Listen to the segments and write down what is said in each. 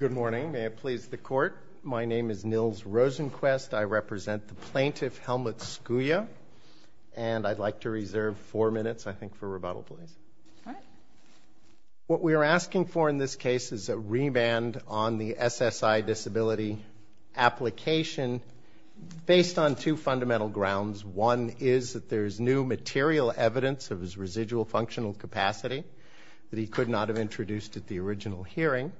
Good morning. May it please the court. My name is Nils Rosenquist. I represent the plaintiff Helmut Skuja, and I'd like to reserve four minutes, I think, for rebuttal, please. What we are asking for in this case is a remand on the SSI disability application based on two fundamental grounds. One is that there is new material evidence of his residual functional capacity that he could not have introduced at the original hearing,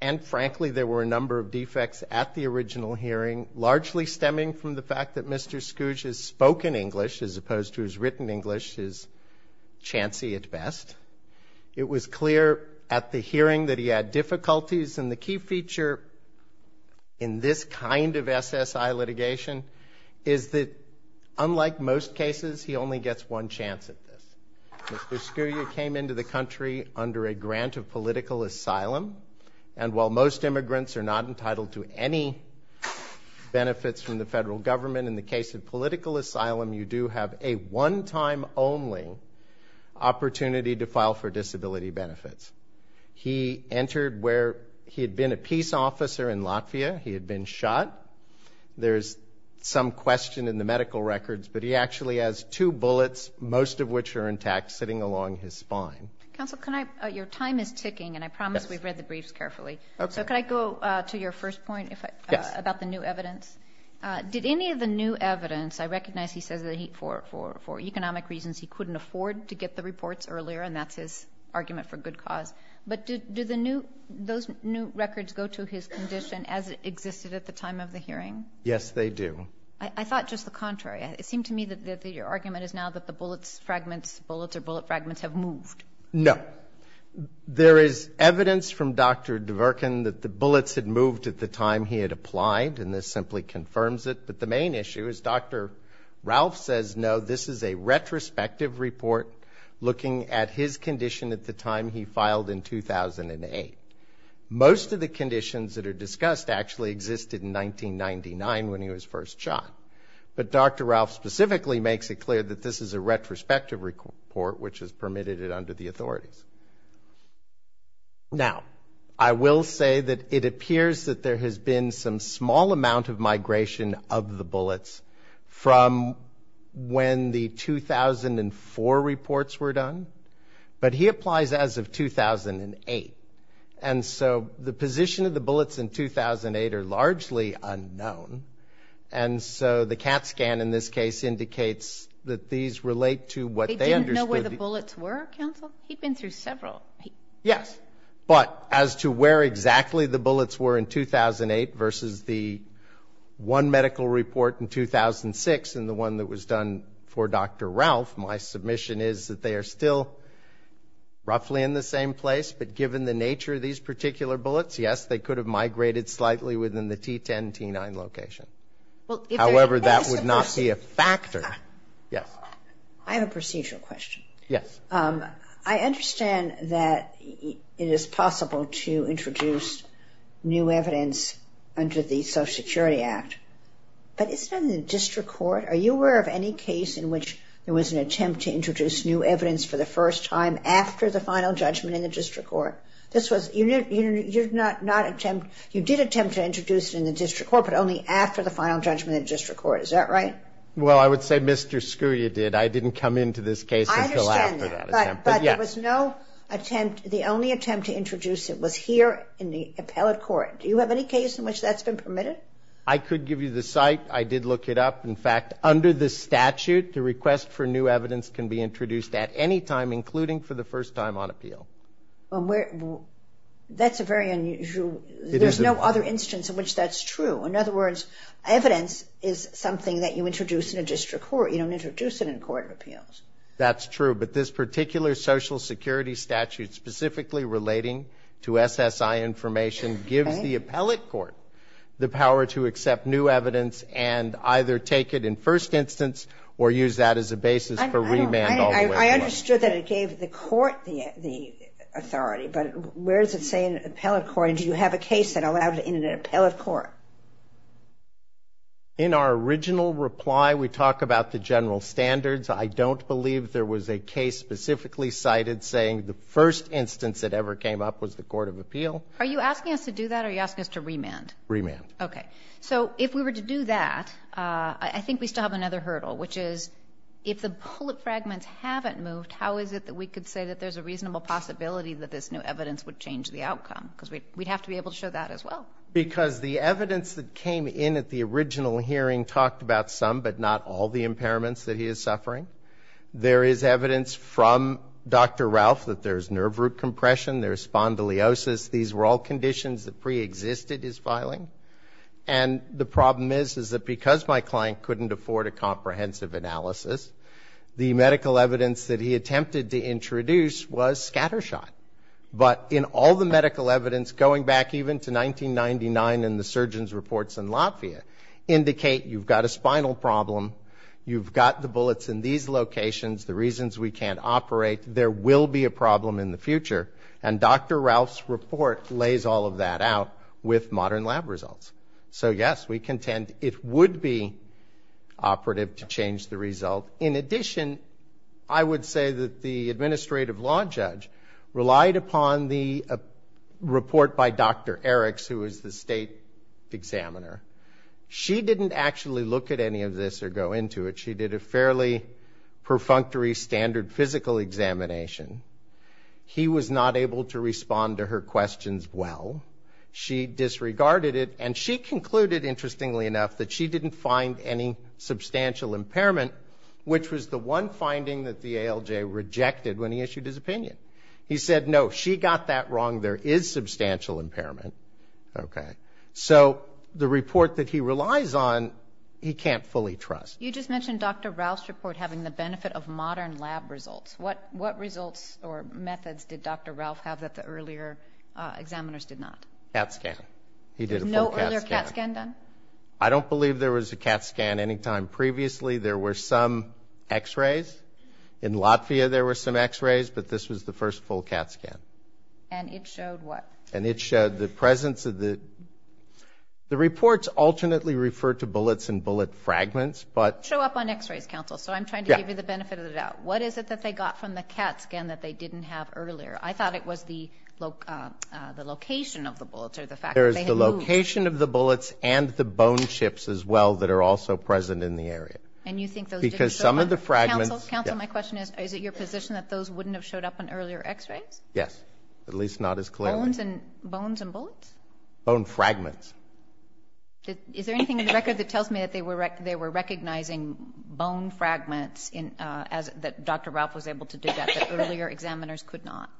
and frankly, there were a number of defects at the original hearing, largely stemming from the fact that Mr. Skuja's spoken English, as opposed to his written English, is chancy at best. It was clear at the hearing that he had difficulties, and the key feature in this kind of SSI litigation is that, unlike most cases, he only gets one chance at this. Mr. Skuja came into the country under a grant of political asylum, and while most immigrants are not entitled to any benefits from the federal government, in the case of political asylum, you do have a one-time only opportunity to file for disability benefits. He entered where he had been a peace officer in Latvia. He had been shot. There is some question in the medical records, but he actually has two bullets, most of which are intact, sitting along his spine. Counsel, can I? Your time is ticking, and I promise we've read the briefs carefully. Okay. So can I go to your first point about the new evidence? Yes. Did any of the new evidence, I recognize he says that for economic reasons he couldn't afford to get the reports earlier, and that's his argument for good cause, but do those new records go to his condition as it existed at the time of the hearing? Yes, they do. I thought just the contrary. It seemed to me that your argument is now that the bullets fragments, bullets or bullet fragments have moved. No. There is evidence from Dr. Dvorkin that the bullets had moved at the time he had applied, and this simply confirms it, but the main issue is Dr. Ralph says, no, this is a retrospective report, looking at his condition at the time he filed in 2008. Most of the conditions that are discussed actually existed in 1999 when he was first shot, but Dr. Ralph specifically makes it clear that this is a retrospective report, which is permitted under the authorities. Now, I will say that it appears that there has been some small amount of migration of the bullets from when the 2004 reports were done, but he applies as of 2008, and so the position of the bullets in 2008 are largely unknown, and so the CAT scan in this case indicates that these relate to what they understood. They didn't know where the bullets were, counsel? He'd been through several. Yes, but as to where exactly the bullets were in 2008 versus the one medical report in 2006 and the one that was done for Dr. Ralph, my submission is that they are still roughly in the same place, but given the nature of these particular bullets, yes, they could have migrated slightly within the T10, T9 location. However, that would not be a factor. I have a procedural question. I understand that it is possible to introduce new evidence under the Social Security Act, but isn't that in the district court? Are you aware of any case in which there was an attempt to introduce new evidence for the first time after the final judgment in the district court? You did attempt to introduce it in the district court, but only after the final judgment in the district court. Is that right? Well, I would say Mr. Scuria did. I didn't come into this case until after that attempt. I understand that, but there was no attempt. The only attempt to introduce it was here in the appellate court. Do you have any case in which that's been permitted? I could give you the site. I did look it up. In fact, under the statute, the request for new evidence can be introduced at any time, including for the first time on appeal. That's a very unusual. There's no other instance in which that's true. In other words, evidence is something that you introduce in a district court. You don't introduce it in a court of appeals. That's true, but this particular Social Security statute specifically relating to SSI information gives the appellate court the power to accept new evidence and either take it in first instance or use that as a basis for remand all the way through. I understood that it gave the court the authority, but where does it say in the appellate court? Do you have a case that allowed it in an appellate court? In our original reply, we talk about the general standards. I don't believe there was a case specifically cited saying the first instance it ever came up was the court of appeal. Are you asking us to do that or are you asking us to remand? Remand. Okay. So if we were to do that, I think we still have another hurdle, which is if the bullet fragments haven't moved, how is it that we could say that there's a reasonable possibility that this new evidence would change the outcome? Because we'd have to be able to show that as well. Because the evidence that came in at the original hearing talked about some, but not all, the impairments that he is suffering. There is evidence from Dr. Ralph that there's nerve root compression, there's spondylosis. These were all conditions that preexisted his filing. And the problem is, is that because my client couldn't afford a comprehensive analysis, the medical evidence that he attempted to introduce was scattershot. But in all the medical evidence, going back even to 1999 and the surgeon's reports in Latvia, indicate you've got a spinal problem, you've got the bullets in these locations, the reasons we can't operate, there will be a problem in the future. And Dr. Ralph's report lays all of that out with modern lab results. So yes, we contend it would be operative to change the result. In addition, I would say that the administrative law judge relied upon the report by Dr. Eriks, who is the state examiner. She didn't actually look at any of this or go into it. She did a fairly perfunctory standard physical examination. He was not able to respond to her questions well. She disregarded it. And she concluded, interestingly enough, that she didn't find any substantial impairment, which was the one finding that the ALJ rejected when he issued his opinion. He said, no, she got that wrong. There is substantial impairment. Okay. So the report that he relies on, he can't fully trust. You just mentioned Dr. Ralph's report having the benefit of modern lab results. What results or methods did Dr. Ralph have that the earlier examiners did not? CAT scan. He did a full CAT scan. I don't believe there was a CAT scan any time previously. There were some X-rays. In Latvia, there were some X-rays, but this was the first full CAT scan. And it showed what? And it showed the presence of the the reports alternately referred to bullets and bullet fragments, but Show up on X-rays, counsel. So I'm trying to give you the benefit of the doubt. What is it that they got from the CAT scan that they didn't have earlier? I thought it was the location of the bullets or the fact that they had moved. Location of the bullets and the bone chips as well that are also present in the area. And you think those Because some of the fragments Counsel, counsel, my question is, is it your position that those wouldn't have showed up on earlier X-rays? Yes. At least not as clearly. Bones and bones and bullets? Bone fragments. Is there anything in the record that tells me that they were they were recognizing bone fragments in as that Dr. Ralph was able to do that earlier examiners could not?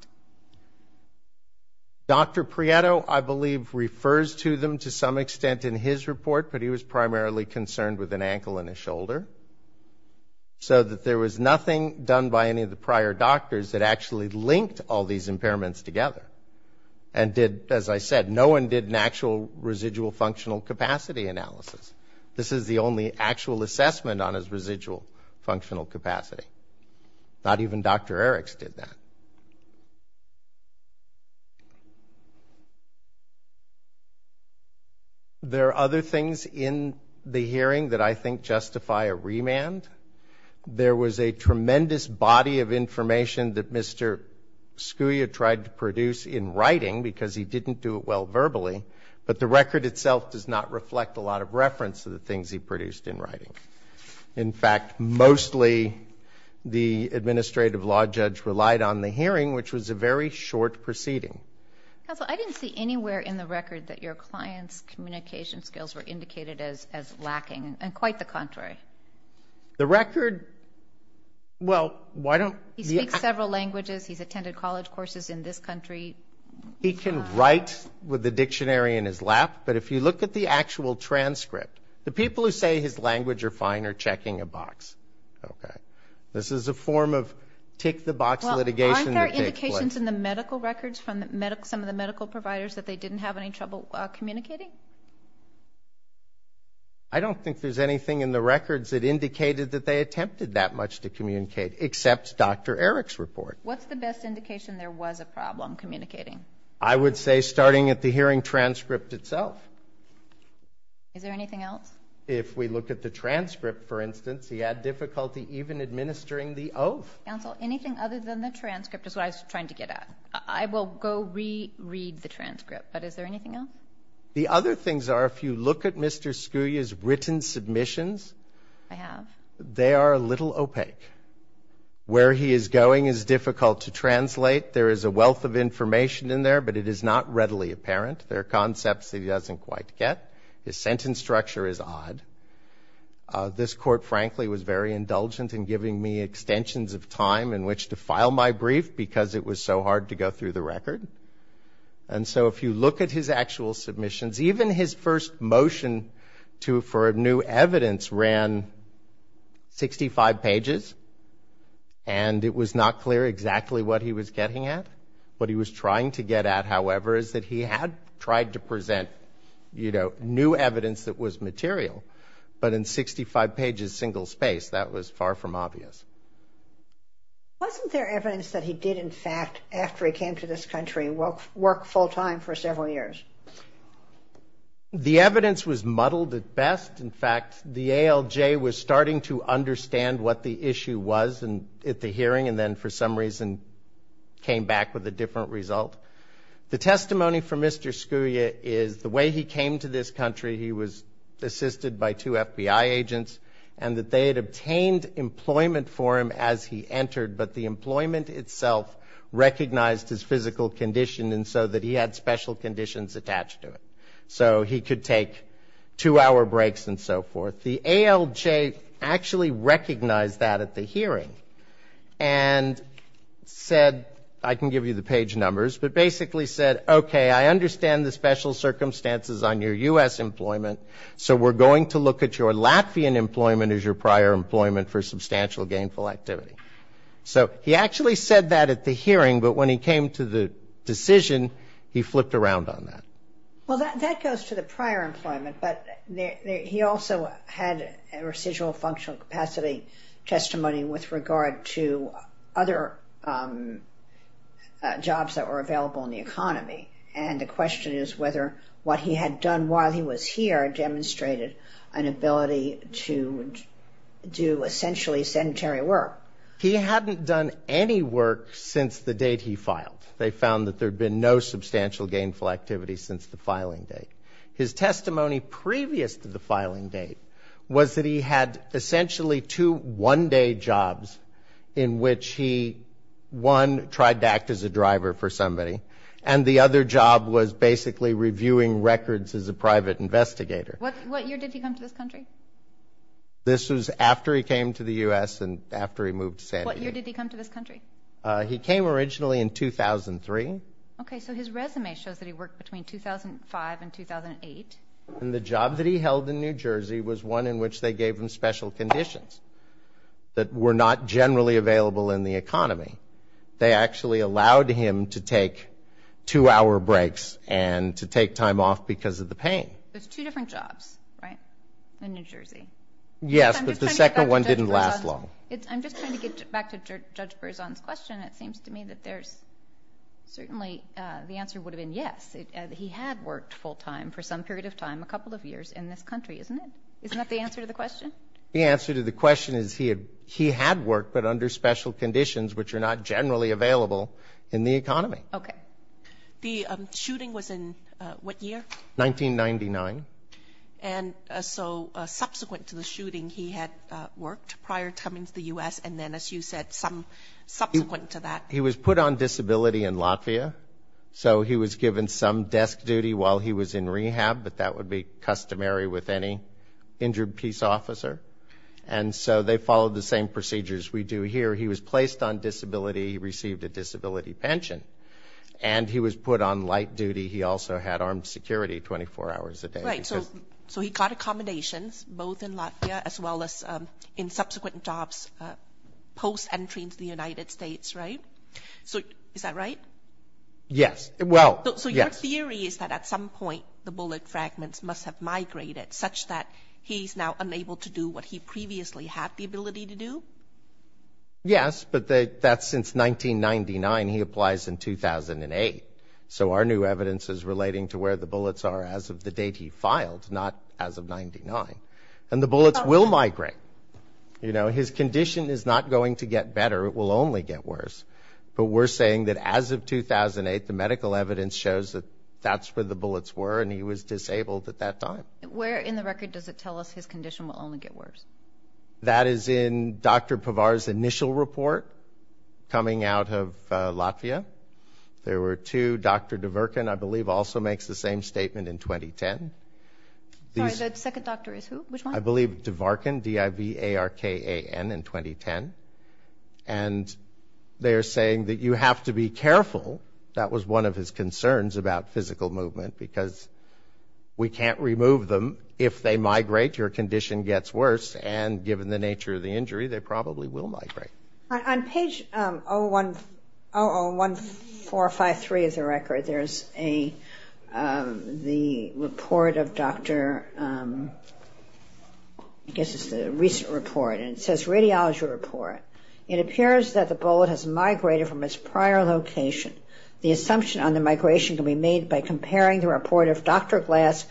Dr. Prieto, I believe, refers to them to some extent in his report, but he was primarily concerned with an ankle and a shoulder. So that there was nothing done by any of the prior doctors that actually linked all these impairments together. And did, as I said, no one did an actual residual functional capacity analysis. This is the only actual assessment on his residual functional capacity. Not even Dr. Eriks did that. There are other things in the hearing that I think justify a remand. There was a tremendous body of information that Mr. Scuia tried to produce in writing because he didn't do it well verbally, but the record itself does not reflect a lot of reference to the things he produced in writing. In fact, mostly the administrative law judge relied on the hearing, which was a very short proceeding. Counsel, I didn't see anywhere in the record that your client's communication skills were indicated as lacking, and quite the contrary. The record, well, why don't... He speaks several languages. He's attended college courses in this country. He can write with the dictionary in his lap, but if you look at the actual transcript, the people who say his language are fine are checking a box. This is a form of tick-the-box litigation that takes place. Well, aren't there indications in the medical records from some of the medical providers that they didn't have any trouble communicating? I don't think there's anything in the records that indicated that they attempted that much to communicate, except Dr. Eriks' report. What's the best indication there was a problem communicating? I would say starting at the hearing transcript itself. Is there anything else? If we look at the transcript, for instance, he had difficulty even administering the oath. Counsel, anything other than the transcript is what I was trying to get at. I will go re-read the transcript, but is there anything else? The other things are, if you look at Mr. Scuia's written submissions... I have. They are a little opaque. Where he is going is difficult to translate. There is a wealth of information in there, but it is not readily apparent. There are concepts he doesn't quite get. His sentence structure is odd. This Court, frankly, was very indulgent in giving me extensions of time in which to file my brief because it was so hard to go through the record. And so if you look at his actual submissions, even his first motion for new evidence ran 65 pages, and it was not clear exactly what he was getting at. What he was trying to get at, however, is that he had tried to present, you know, new evidence that was material, but in 65 pages, single space, that was far from obvious. Wasn't there evidence that he did, in fact, after he came to this country, work full-time for several years? The evidence was muddled at best. In fact, the ALJ was starting to understand what the issue was at the hearing and then for some reason came back with a different result. The testimony from Mr. Scuria is the way he came to this country, he was assisted by two FBI agents, and that they had obtained employment for him as he entered, but the employment itself recognized his physical condition and so that he had special conditions attached to it. So he could take two-hour breaks and so forth. The ALJ actually recognized that at the hearing and said, I can give you the page numbers, but basically said, okay, I understand the special circumstances on your U.S. employment, so we're going to look at your Latvian employment as your prior employment for substantial gainful activity. So he actually said that at the hearing, but when he came to the decision, he flipped around on that. Well, that goes to the prior employment, but he also had a residual functional capacity testimony with regard to other jobs that were available in the economy. And the question is whether what he had done while he was here demonstrated an ability to do essentially sedentary work. He hadn't done any work since the date he filed. They found that there had been no substantial gainful activity since the filing date. His testimony previous to the filing date was that he had essentially two one-day jobs in which he, one, tried to act as a driver for somebody, and the other job was basically reviewing records as a private investigator. What year did he come to this country? This was after he came to the U.S. and after he moved to San Diego. What year did he come to this country? He came originally in 2003. Okay, so his resume shows that he worked between 2005 and 2008. And the job that he held in New Jersey was one in which they gave him special conditions that were not generally available in the economy. They actually allowed him to take two-hour breaks and to take time off because of the pain. There's two different jobs, right, in New Jersey? Yes, but the second one didn't last long. I'm just trying to get back to Judge Berzon's question. It seems to me that there's certainly the answer would have been yes. He had worked full-time for some period of time, a couple of years, in this country, isn't it? Isn't that the answer to the question? The answer to the question is he had worked, but under special conditions which are not generally available in the economy. Okay. The shooting was in what year? 1999. And so subsequent to the shooting, he had worked prior to coming to the U.S. and then, as you said, some subsequent to that. He was put on disability in Latvia. So he was given some desk duty while he was in rehab, but that would be customary with any injured peace officer. And so they followed the same procedures we do here. He was placed on disability, he received a disability pension. And he was put on light duty. He also had armed security 24 hours a day. Right. So he got accommodations both in Latvia as well as in subsequent jobs post-entry into the United States, right? So is that right? Yes. Well, yes. So your theory is that at some point, the bullet fragments must have migrated such that he's now unable to do what he previously had the ability to do? Yes, but that's since 1999. He applies in 2008. So our new evidence is relating to where the bullets are as of the date he filed, not as of 99. And the bullets will migrate. You know, his condition is not going to get better, it will only get worse. But we're saying that as of 2008, the medical evidence shows that that's where the bullets were and he was disabled at that time. Where in the record does it tell us his condition will only get worse? That is in Dr. Pavar's initial report coming out of Latvia. There were two. Dr. Dvorkan, I believe, also makes the same statement in 2010. Sorry, the second doctor is who? Which one? I believe Dvorkan, D-I-V-A-R-K-A-N, in 2010. And they're saying that you have to be careful. That was one of his concerns about physical movement because we can't remove them. If they migrate, your condition gets worse. And given the nature of the injury, they probably will migrate. On page 0-0-1-4-5-3 of the record, there's the report of Dr. – I guess it's the recent report. And it says radiology report. It appears that the bullet has migrated from its prior location. The assumption on the migration can be made by comparing the report of Dr. Glass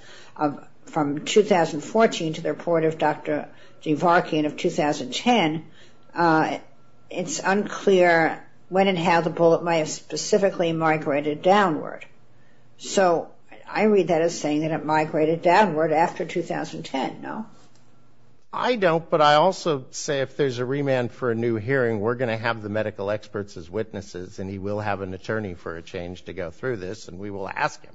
from 2014 to the report of Dr. Dvorkan of 2010. It's unclear when and how the bullet might have specifically migrated downward. So I read that as saying that it migrated downward after 2010, no? I don't, but I also say if there's a remand for a new hearing, we're going to have the medical experts as witnesses and he will have an attorney for a change to go through this and we will ask him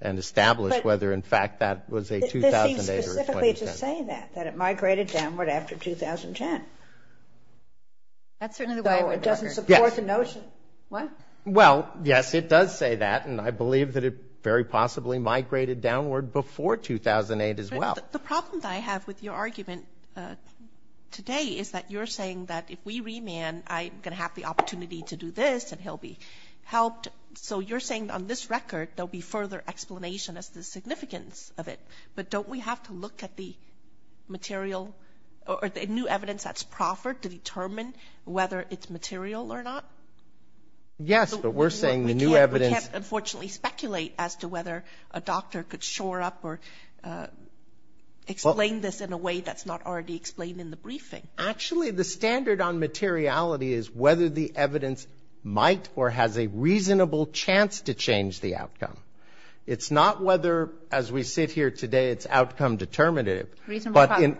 and establish whether in fact that was a 2008 or a 2010. But this seems specifically to say that, that it migrated downward after 2010. That's certainly the way I would record it. Yes. So it doesn't support the notion. What? Well, yes, it does say that. And I believe that it very possibly migrated downward before 2008 as well. The problem that I have with your argument today is that you're saying that if we remand, I'm going to have the opportunity to do this and he'll be helped. So you're saying on this record, there'll be further explanation as to the significance of it. But don't we have to look at the material or the new evidence that's proffered to determine whether it's material or not? Yes, but we're saying the new evidence. We can't unfortunately speculate as to whether a doctor could shore up or explain this in a way that's not already explained in the briefing. Actually, the standard on materiality is whether the evidence might or has a reasonable chance to change the outcome. It's not whether, as we sit here today, it's outcome determinative. But in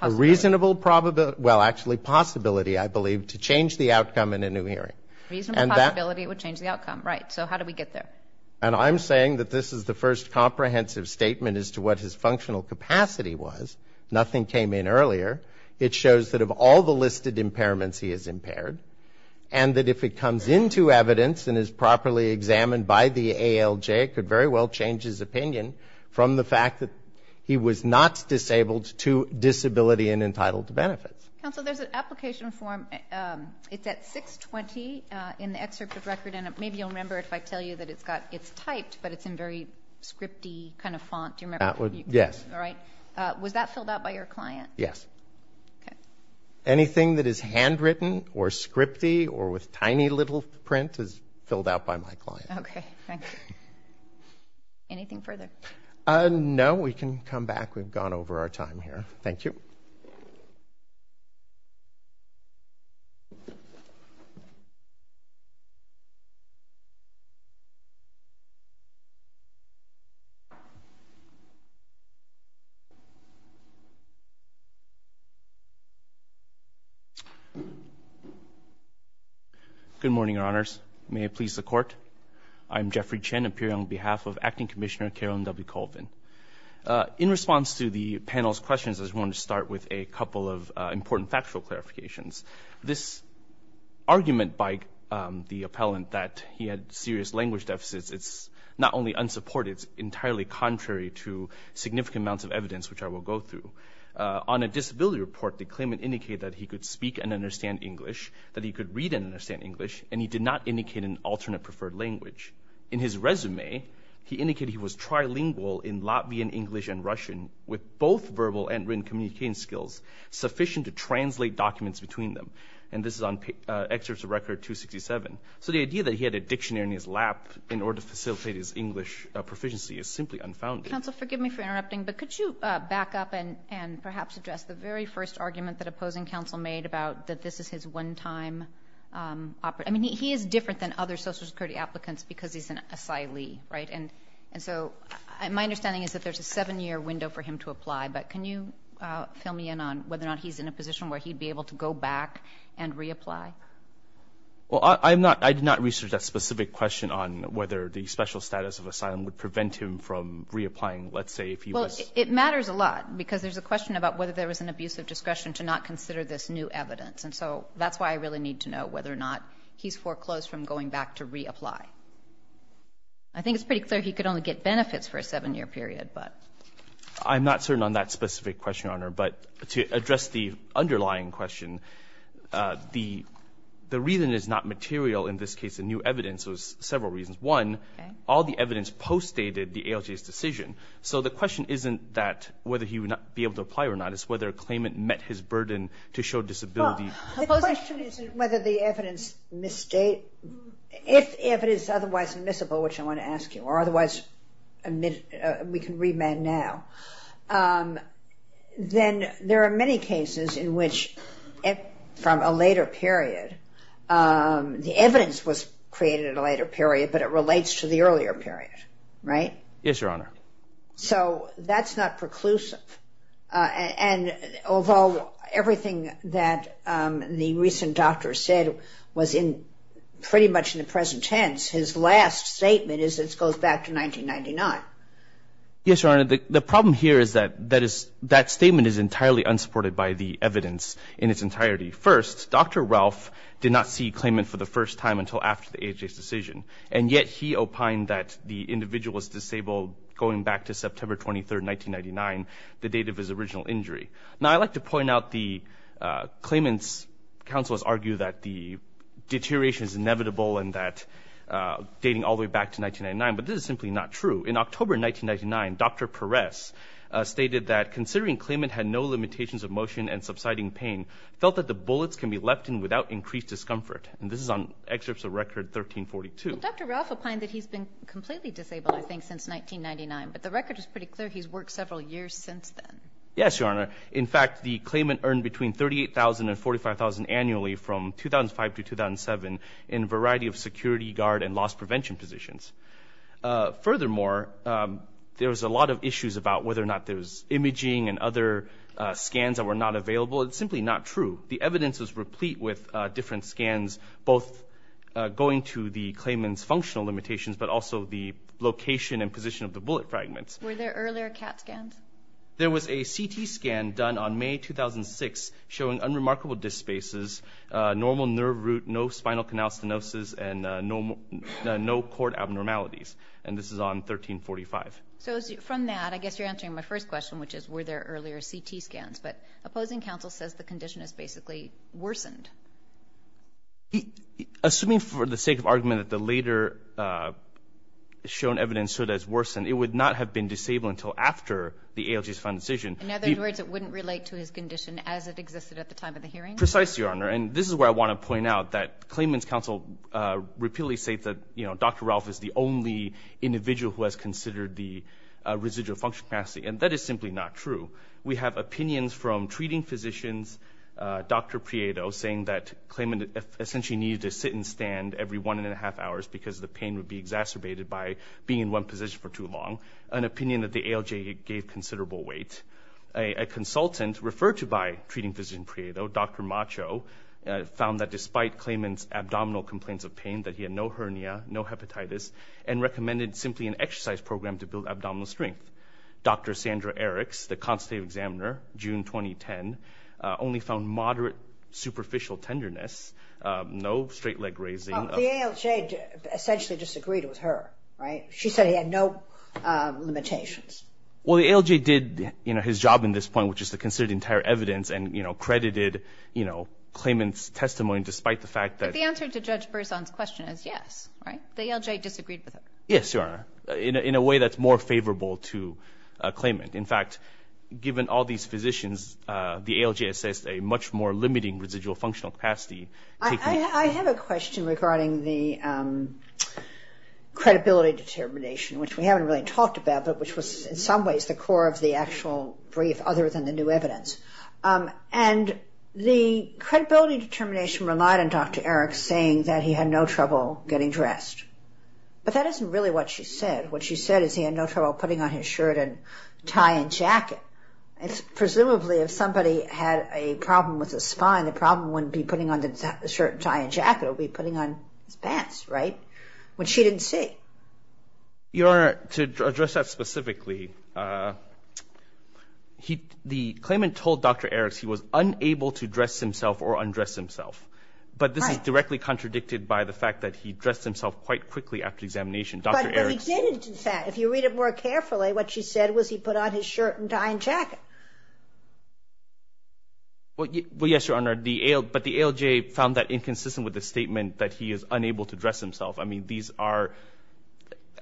a reasonable probability, well, actually possibility, I believe, to change the outcome in a new hearing. A reasonable possibility it would change the outcome. Right. So how do we get there? And I'm saying that this is the first comprehensive statement as to what his functional capacity was. Nothing came in earlier. It shows that of all the listed impairments, he is impaired. And that if it comes into evidence and is properly examined by the ALJ, it could very well change his opinion from the fact that he was not disabled to disability and entitled to benefits. Counsel, there's an application form. It's at 620 in the excerpt of record. And maybe you'll remember if I tell you that it's got, it's typed, but it's in very scripty kind of font. Do you remember? Yes. All right. Was that filled out by your client? Yes. Okay. Anything that is handwritten or scripty or with tiny little print is filled out by my client. Okay. Thank you. Anything further? No. We can come back. We've gone over our time here. Thank you. Good morning, Your Honors. May it please the Court. I'm Jeffrey Chen, appearing on behalf of Acting Commissioner Carolyn W. Colvin. In response to the panel's questions, I just wanted to start with a couple of important factual clarifications. This argument by the appellant that he had serious language deficits, it's not only unsupported, it's entirely contrary to significant amounts of evidence which I will go through. On a disability report, the claimant indicated that he could speak and understand English, that he could read and understand English, and he did not indicate an alternate preferred language. In his resume, he indicated he was trilingual in Latvian, English, and Russian with both verbal and written communicating skills sufficient to translate documents between them. And this is on excerpts of record 267. So the idea that he had a dictionary in his lap in order to facilitate his English proficiency is simply unfounded. Counsel, forgive me for interrupting, but could you back up and perhaps address the very first argument that opposing counsel made about that this is his one-time... I mean, he is different than other Social Security applicants because he's an asylee, right? And so my understanding is that there's a seven-year window for him to apply, but can you fill me in on whether or not he's in a position where he'd be able to go back and reapply? Well, I'm not — I did not research that specific question on whether the special status of asylum would prevent him from reapplying, let's say, if he was... Well, it matters a lot because there's a question about whether there was an abuse of discretion to not consider this new evidence. And so that's why I really need to know whether or not he's foreclosed from going back to reapply. I think it's pretty clear he could only get benefits for a seven-year period, but... I'm not certain on that specific question, Your Honor, but to address the underlying question, the reason it's not material in this case, the new evidence, was several reasons. One, all the evidence postdated the ALJ's decision. So the question isn't that whether he would be able to apply or not. It's whether a claimant met his burden to show disability. Well, the question isn't whether the evidence misstate. If evidence is otherwise admissible, which I want to ask you, or otherwise we can remand now, then there are many cases in which, from a later period, the evidence was created at a later period, but it relates to the earlier period, right? Yes, Your Honor. So that's not preclusive. And although everything that the recent doctor said was pretty much in the present tense, his last statement is it goes back to 1999. Yes, Your Honor. The problem here is that that statement is entirely unsupported by the evidence in its entirety. First, Dr. Ralph did not see a claimant for the first time until after the ALJ's decision, and yet he opined that the individual was disabled going back to September 23, 1999, the date of his original injury. Now, I'd like to point out the claimant's counsel has argued that the deterioration is inevitable and that dating all the way back to 1999, but this is simply not true. In October 1999, Dr. Perez stated that, considering claimant had no limitations of motion and subsiding pain, felt that the bullets can be left in without increased discomfort. And this is on excerpts of record 1342. Well, Dr. Ralph opined that he's been completely disabled, I think, since 1999, but the record is pretty clear he's worked several years since then. Yes, Your Honor. In fact, the claimant earned between $38,000 and $45,000 annually from 2005 to 2007 in a variety of security, guard, and loss prevention positions. Furthermore, there was a lot of issues about whether or not there was imaging and other scans that were not available. It's simply not true. The evidence was replete with different scans, both going to the claimant's functional limitations but also the location and position of the bullet fragments. Were there earlier CAT scans? There was a CT scan done on May 2006 showing unremarkable disc spaces, normal nerve root, no spinal canal stenosis, and no cord abnormalities. And this is on 1345. So, from that, I guess you're answering my first question, which is, were there earlier CT scans? But opposing counsel says the condition has basically worsened. Assuming for the sake of argument that the later shown evidence showed it has worsened, it would not have been disabled until after the ALJ's final decision. In other words, it wouldn't relate to his condition as it existed at the time of the hearing? Precisely, Your Honor. And this is where I want to point out that claimant's counsel repeatedly states that Dr. Ralph is the only individual who has considered the residual function capacity. And that is simply not true. We have opinions from treating physicians, Dr. Prieto, saying that claimant essentially needed to sit and stand every one and a half hours because the pain would be exacerbated by being in one position for too long, an opinion that the ALJ gave considerable weight. A consultant referred to by treating physician Prieto, Dr. Macho, found that despite claimant's abdominal complaints of pain, that he had no hernia, no hepatitis, and recommended simply an exercise program to build abdominal strength. Dr. Sandra Eriks, the constitutive examiner, June 2010, only found moderate superficial tenderness, no straight leg raising. Well, the ALJ essentially disagreed with her, right? She said he had no limitations. Well, the ALJ did, you know, his job in this point, which is to consider the entire evidence and, you know, credited, you know, claimant's testimony despite the fact that But the answer to Judge Berzon's question is yes, right? The ALJ disagreed with her. Yes, Your Honor, in a way that's more favorable to a claimant. In fact, given all these physicians, the ALJ assessed a much more limiting residual functional capacity. I have a question regarding the credibility determination, which we haven't really talked about, but which was in some ways the core of the actual brief other than the new evidence. And the credibility determination relied on Dr. Eriks saying that he had no trouble getting dressed. But that isn't really what she said. What she said is he had no trouble putting on his shirt and tie and jacket. Presumably if somebody had a problem with the spine, the problem wouldn't be putting on the shirt and tie and jacket, it would be putting on his pants, right, which she didn't see. Your Honor, to address that specifically, the claimant told Dr. Eriks he was unable to dress himself or undress himself. But this is directly contradicted by the fact that he dressed himself quite quickly after examination. Dr. Eriks But he didn't do that. If you read it more carefully, what she said was he put on his shirt and tie and jacket. Well, yes, Your Honor, but the ALJ found that inconsistent with the statement that he is unable to dress himself. I mean, these are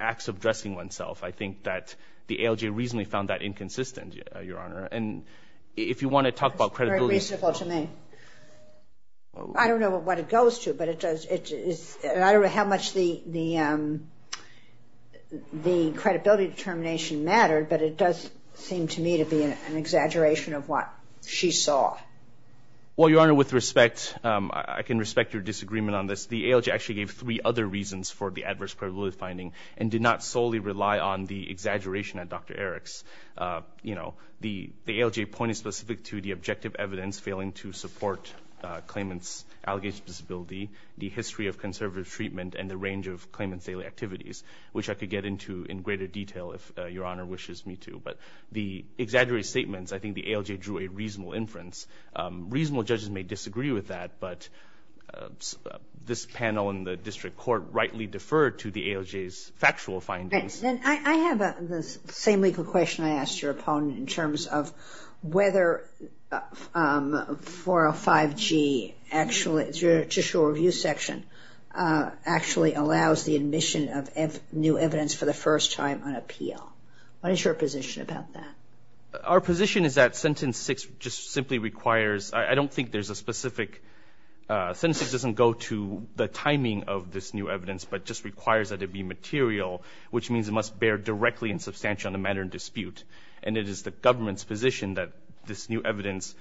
acts of dressing oneself. I think that the ALJ reasonably found that inconsistent, Your Honor. And if you want to talk about credibility That's very reasonable to me. I don't know what it goes to, but it does, it's, I don't know how much the, the, the credibility determination mattered, but it does seem to me to be an exaggeration of what she saw. Well, Your Honor, with respect, I can respect your disagreement on this. The ALJ actually gave three other reasons for the adverse credibility finding and did not solely rely on the exaggeration at Dr. Eriks. You know, the, the ALJ pointed specific to the objective evidence failing to support a claimant's allegation disability, the history of conservative treatment and the range of claimant's daily activities, which I could get into in greater detail if Your Honor wishes me to. But the exaggerated statements, I think the ALJ drew a reasonable inference. Reasonable judges may disagree with that, but this panel in the district court rightly deferred to the ALJ's factual findings. And I have the same legal question I asked your opponent in terms of whether 405G actually, it's your judicial review section, actually allows the admission of new evidence for the first time on appeal. What is your position about that? Our position is that sentence six just simply requires, I don't think there's a specific, sentence six doesn't go to the timing of this new evidence, but just requires that it be material, which means it must bear directly and substantially on the matter in dispute. And it is the government's position that this new evidence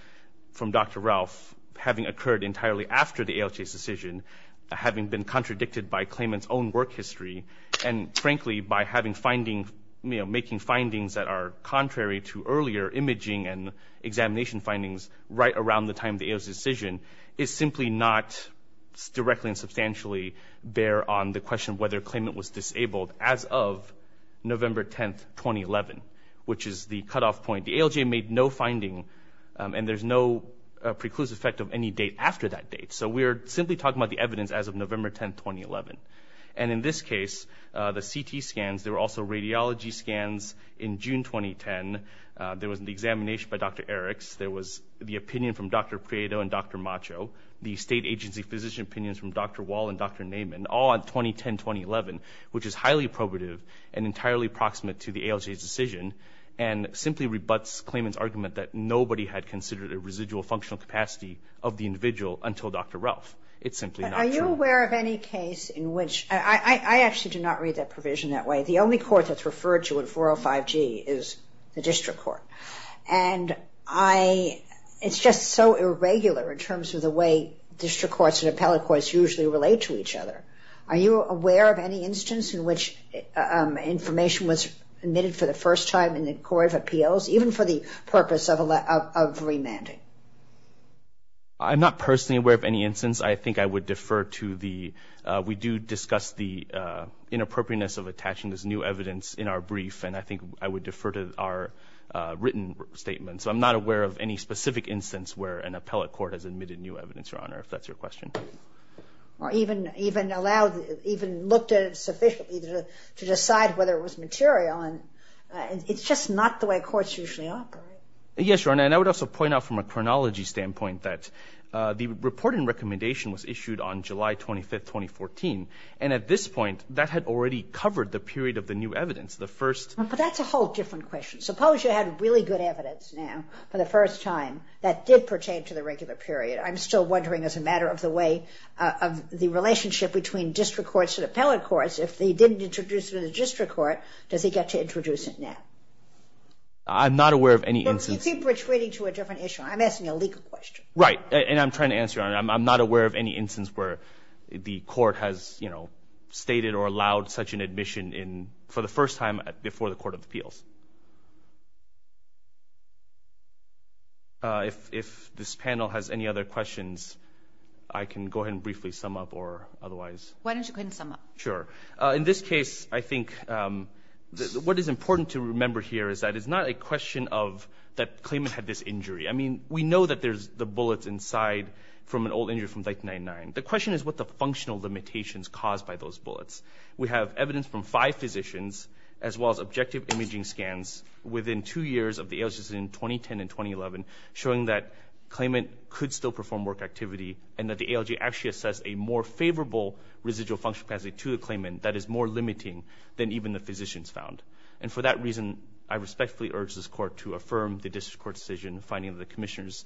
from Dr. Ralph, having occurred entirely after the ALJ's decision, having been contradicted by claimant's own work history, and frankly, by having findings, making findings that are contrary to earlier imaging and examination findings right around the time of the ALJ's decision, is simply not directly and substantially bear on the question of whether claimant was disabled as of November 10th, 2011, which is the cutoff point. The ALJ made no finding, and there's no preclusive effect of any date after that date. So we're simply talking about the evidence as of November 10th, 2011. And in this case, the CT scans, there were also radiology scans in June 2010, there was an examination by Dr. Eriks, there was the opinion from Dr. Prieto and Dr. Macho, the state agency physician opinions from Dr. Wall and Dr. Naiman, all on 2010-2011, which is highly probative and entirely proximate to the ALJ's decision, and simply rebuts claimant's argument that nobody had considered a residual functional capacity of the individual until Dr. Ralph. It's simply not true. Are you aware of any case in which, I actually do not read that provision that way, the only court that's referred to in 405G is the district court. And I, it's just so irregular in terms of the way district courts and appellate courts usually relate to each other. Are you aware of any instance in which information was admitted for the first time in the court of appeals, even for the purpose of remanding? I'm not personally aware of any instance. I think I would defer to the, we do discuss the inappropriateness of attaching this new evidence in our brief, and I think I would defer to our written statement. So I'm not aware of any specific instance where an appellate court has admitted new evidence, Your Honor, if that's your question. Or even, even allowed, even looked at it sufficiently to decide whether it was material, and it's just not the way courts usually operate. Yes, Your Honor. And I would also point out from a chronology standpoint that the reporting recommendation was issued on July 25th, 2014, and at this point, that had already covered the period of the new evidence. The first. But that's a whole different question. Suppose you had really good evidence now, for the first time, that did pertain to the regular period. I'm still wondering as a matter of the way, of the relationship between district courts and appellate courts, if they didn't introduce it in the district court, does he get to introduce it now? I'm not aware of any instance. You seem to be retreating to a different issue. I'm asking a legal question. Right. And I'm trying to answer, Your Honor. I'm not aware of any instance where the court has, you know, stated or allowed such an admission in, for the first time, before the Court of Appeals. If this panel has any other questions, I can go ahead and briefly sum up, or otherwise. Why don't you go ahead and sum up? Sure. In this case, I think, what is important to remember here is that it's not a question of, that claimant had this injury. I mean, we know that there's the bullets inside from an old injury from 1999. The question is what the functional limitations caused by those bullets. We have evidence from five physicians, as well as objective imaging scans, within two years of the ALJs in 2010 and 2011, showing that claimant could still perform work activity, and that the ALJ actually assessed a more favorable residual function capacity to the claimant that is more limiting than even the physicians found. And for that reason, I respectfully urge this Court to affirm the district court's decision in finding that the commissioner's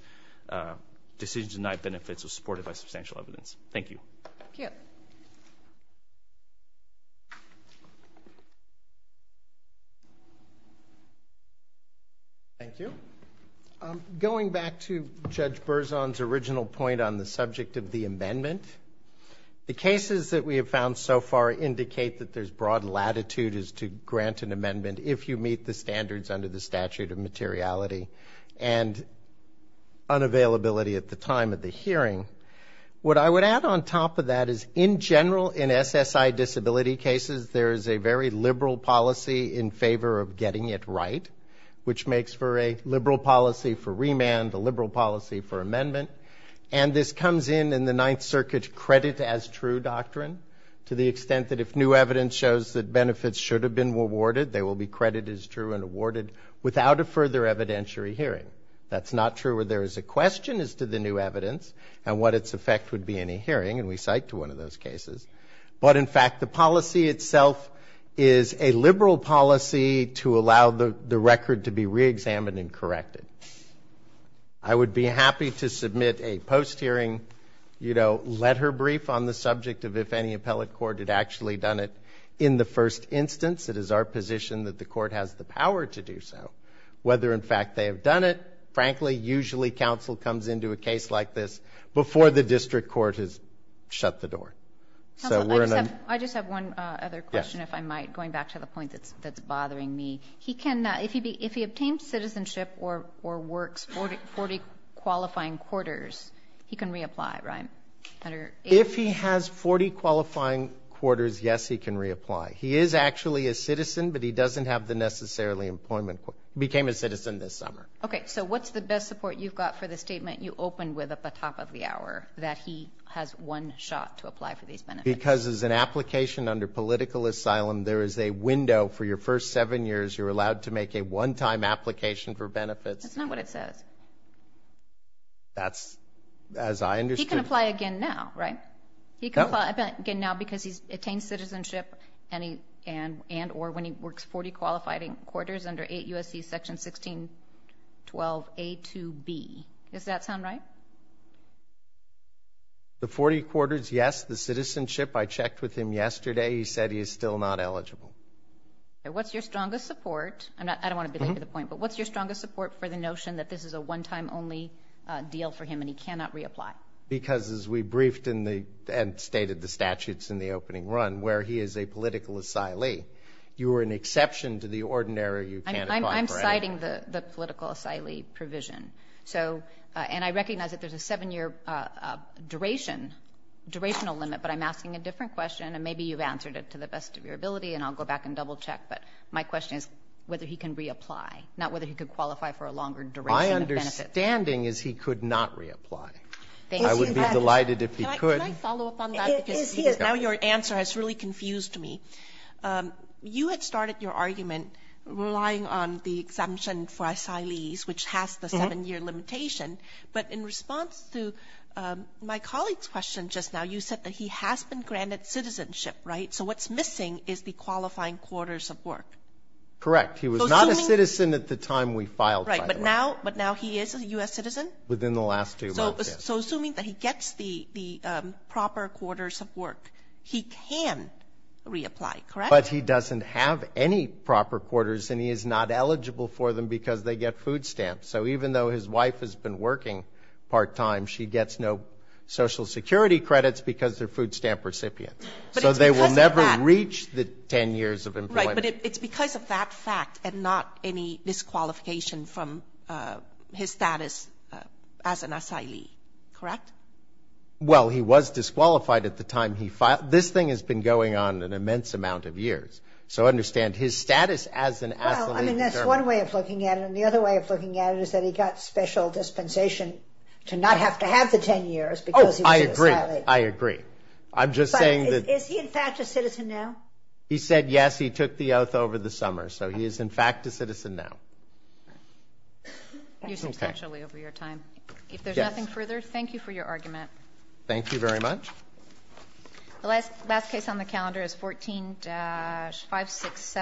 decision to deny benefits was supported by substantial evidence. Thank you. Thank you. Thank you. Going back to Judge Berzon's original point on the subject of the amendment, the cases that we have found so far indicate that there's broad latitude as to grant an amendment if you meet the standards under the statute of materiality and unavailability at the time of the hearing. What I would add on top of that is, in general, in SSI disability cases, there is a very liberal policy in favor of getting it right, which makes for a liberal policy for remand, a liberal policy for amendment. And this comes in in the Ninth Circuit's credit as true doctrine, to the extent that if new evidence shows that benefits should have been awarded, they will be credited as true and awarded without a further evidentiary hearing. That's not true where there is a question as to the new evidence and what its effect would be in a hearing, and we cite to one of those cases. But in fact, the policy itself is a liberal policy to allow the record to be reexamined and corrected. I would be happy to submit a post-hearing, you know, letter brief on the subject of if any appellate court had actually done it in the first instance. It is our position that the court has the power to do so. Whether in fact they have done it, frankly, usually counsel comes into a case like this before the district court has shut the door. So we're in a... Counsel, I just have one other question, if I might, going back to the point that's bothering me. He can, if he obtains citizenship or works 40 qualifying quarters, he can reapply, right? If he has 40 qualifying quarters, yes, he can reapply. He is actually a citizen, but he doesn't have the necessarily employment, became a citizen this summer. Okay. So what's the best support you've got for the statement you opened with at the top of the hour that he has one shot to apply for these benefits? Because as an application under political asylum, there is a window for your first seven years. You're allowed to make a one-time application for benefits. That's not what it says. That's as I understood. He can apply again now, right? He can apply again now because he's attained citizenship and or when he works 40 qualifying quarters under 8 U.S.C. section 1612 A to B. Does that sound right? The 40 quarters, yes. The citizenship, I checked with him yesterday, he said he is still not eligible. Okay. What's your strongest support? I don't want to belabor the point, but what's your strongest support for the notion that this is a one-time only deal for him and he cannot reapply? Because as we briefed and stated the statutes in the opening run, where he is a political asylee, you are an exception to the ordinary, you can't apply for anything. I'm citing the political asylee provision. So and I recognize that there's a seven-year duration, durational limit, but I'm asking a different question and maybe you've answered it to the best of your ability and I'll go back and double-check. But my question is whether he can reapply, not whether he could qualify for a longer duration of benefits. My understanding is he could not reapply. Thank you. I would be delighted if he could. Can I follow up on that because now your answer has really confused me. You had started your argument relying on the exemption for asylees, which has the seven-year limitation. But in response to my colleague's question just now, you said that he has been granted citizenship, right? So what's missing is the qualifying quarters of work. Correct. He was not a citizen at the time we filed, by the way. Right. But now he is a U.S. citizen? Within the last two months, yes. So assuming that he gets the proper quarters of work, he can reapply, correct? But he doesn't have any proper quarters and he is not eligible for them because they get food stamps. So even though his wife has been working part-time, she gets no Social Security credits because they're food stamp recipients. So they will never reach the 10 years of employment. Right. But it's because of that fact and not any disqualification from his status as an asylee, correct? Well, he was disqualified at the time he filed. This thing has been going on an immense amount of years. So understand, his status as an asylee in Germany. Well, I mean, that's one way of looking at it. And the other way of looking at it is that he got special dispensation to not have to have the 10 years because he was an asylee. I agree. I'm just saying that... But is he in fact a citizen now? He said yes. He took the oath over the summer. So he is in fact a citizen now. Okay. You substantially over your time. Yes. If there's nothing further, thank you for your argument. Thank you very much. The last case on the calendar is 14-567.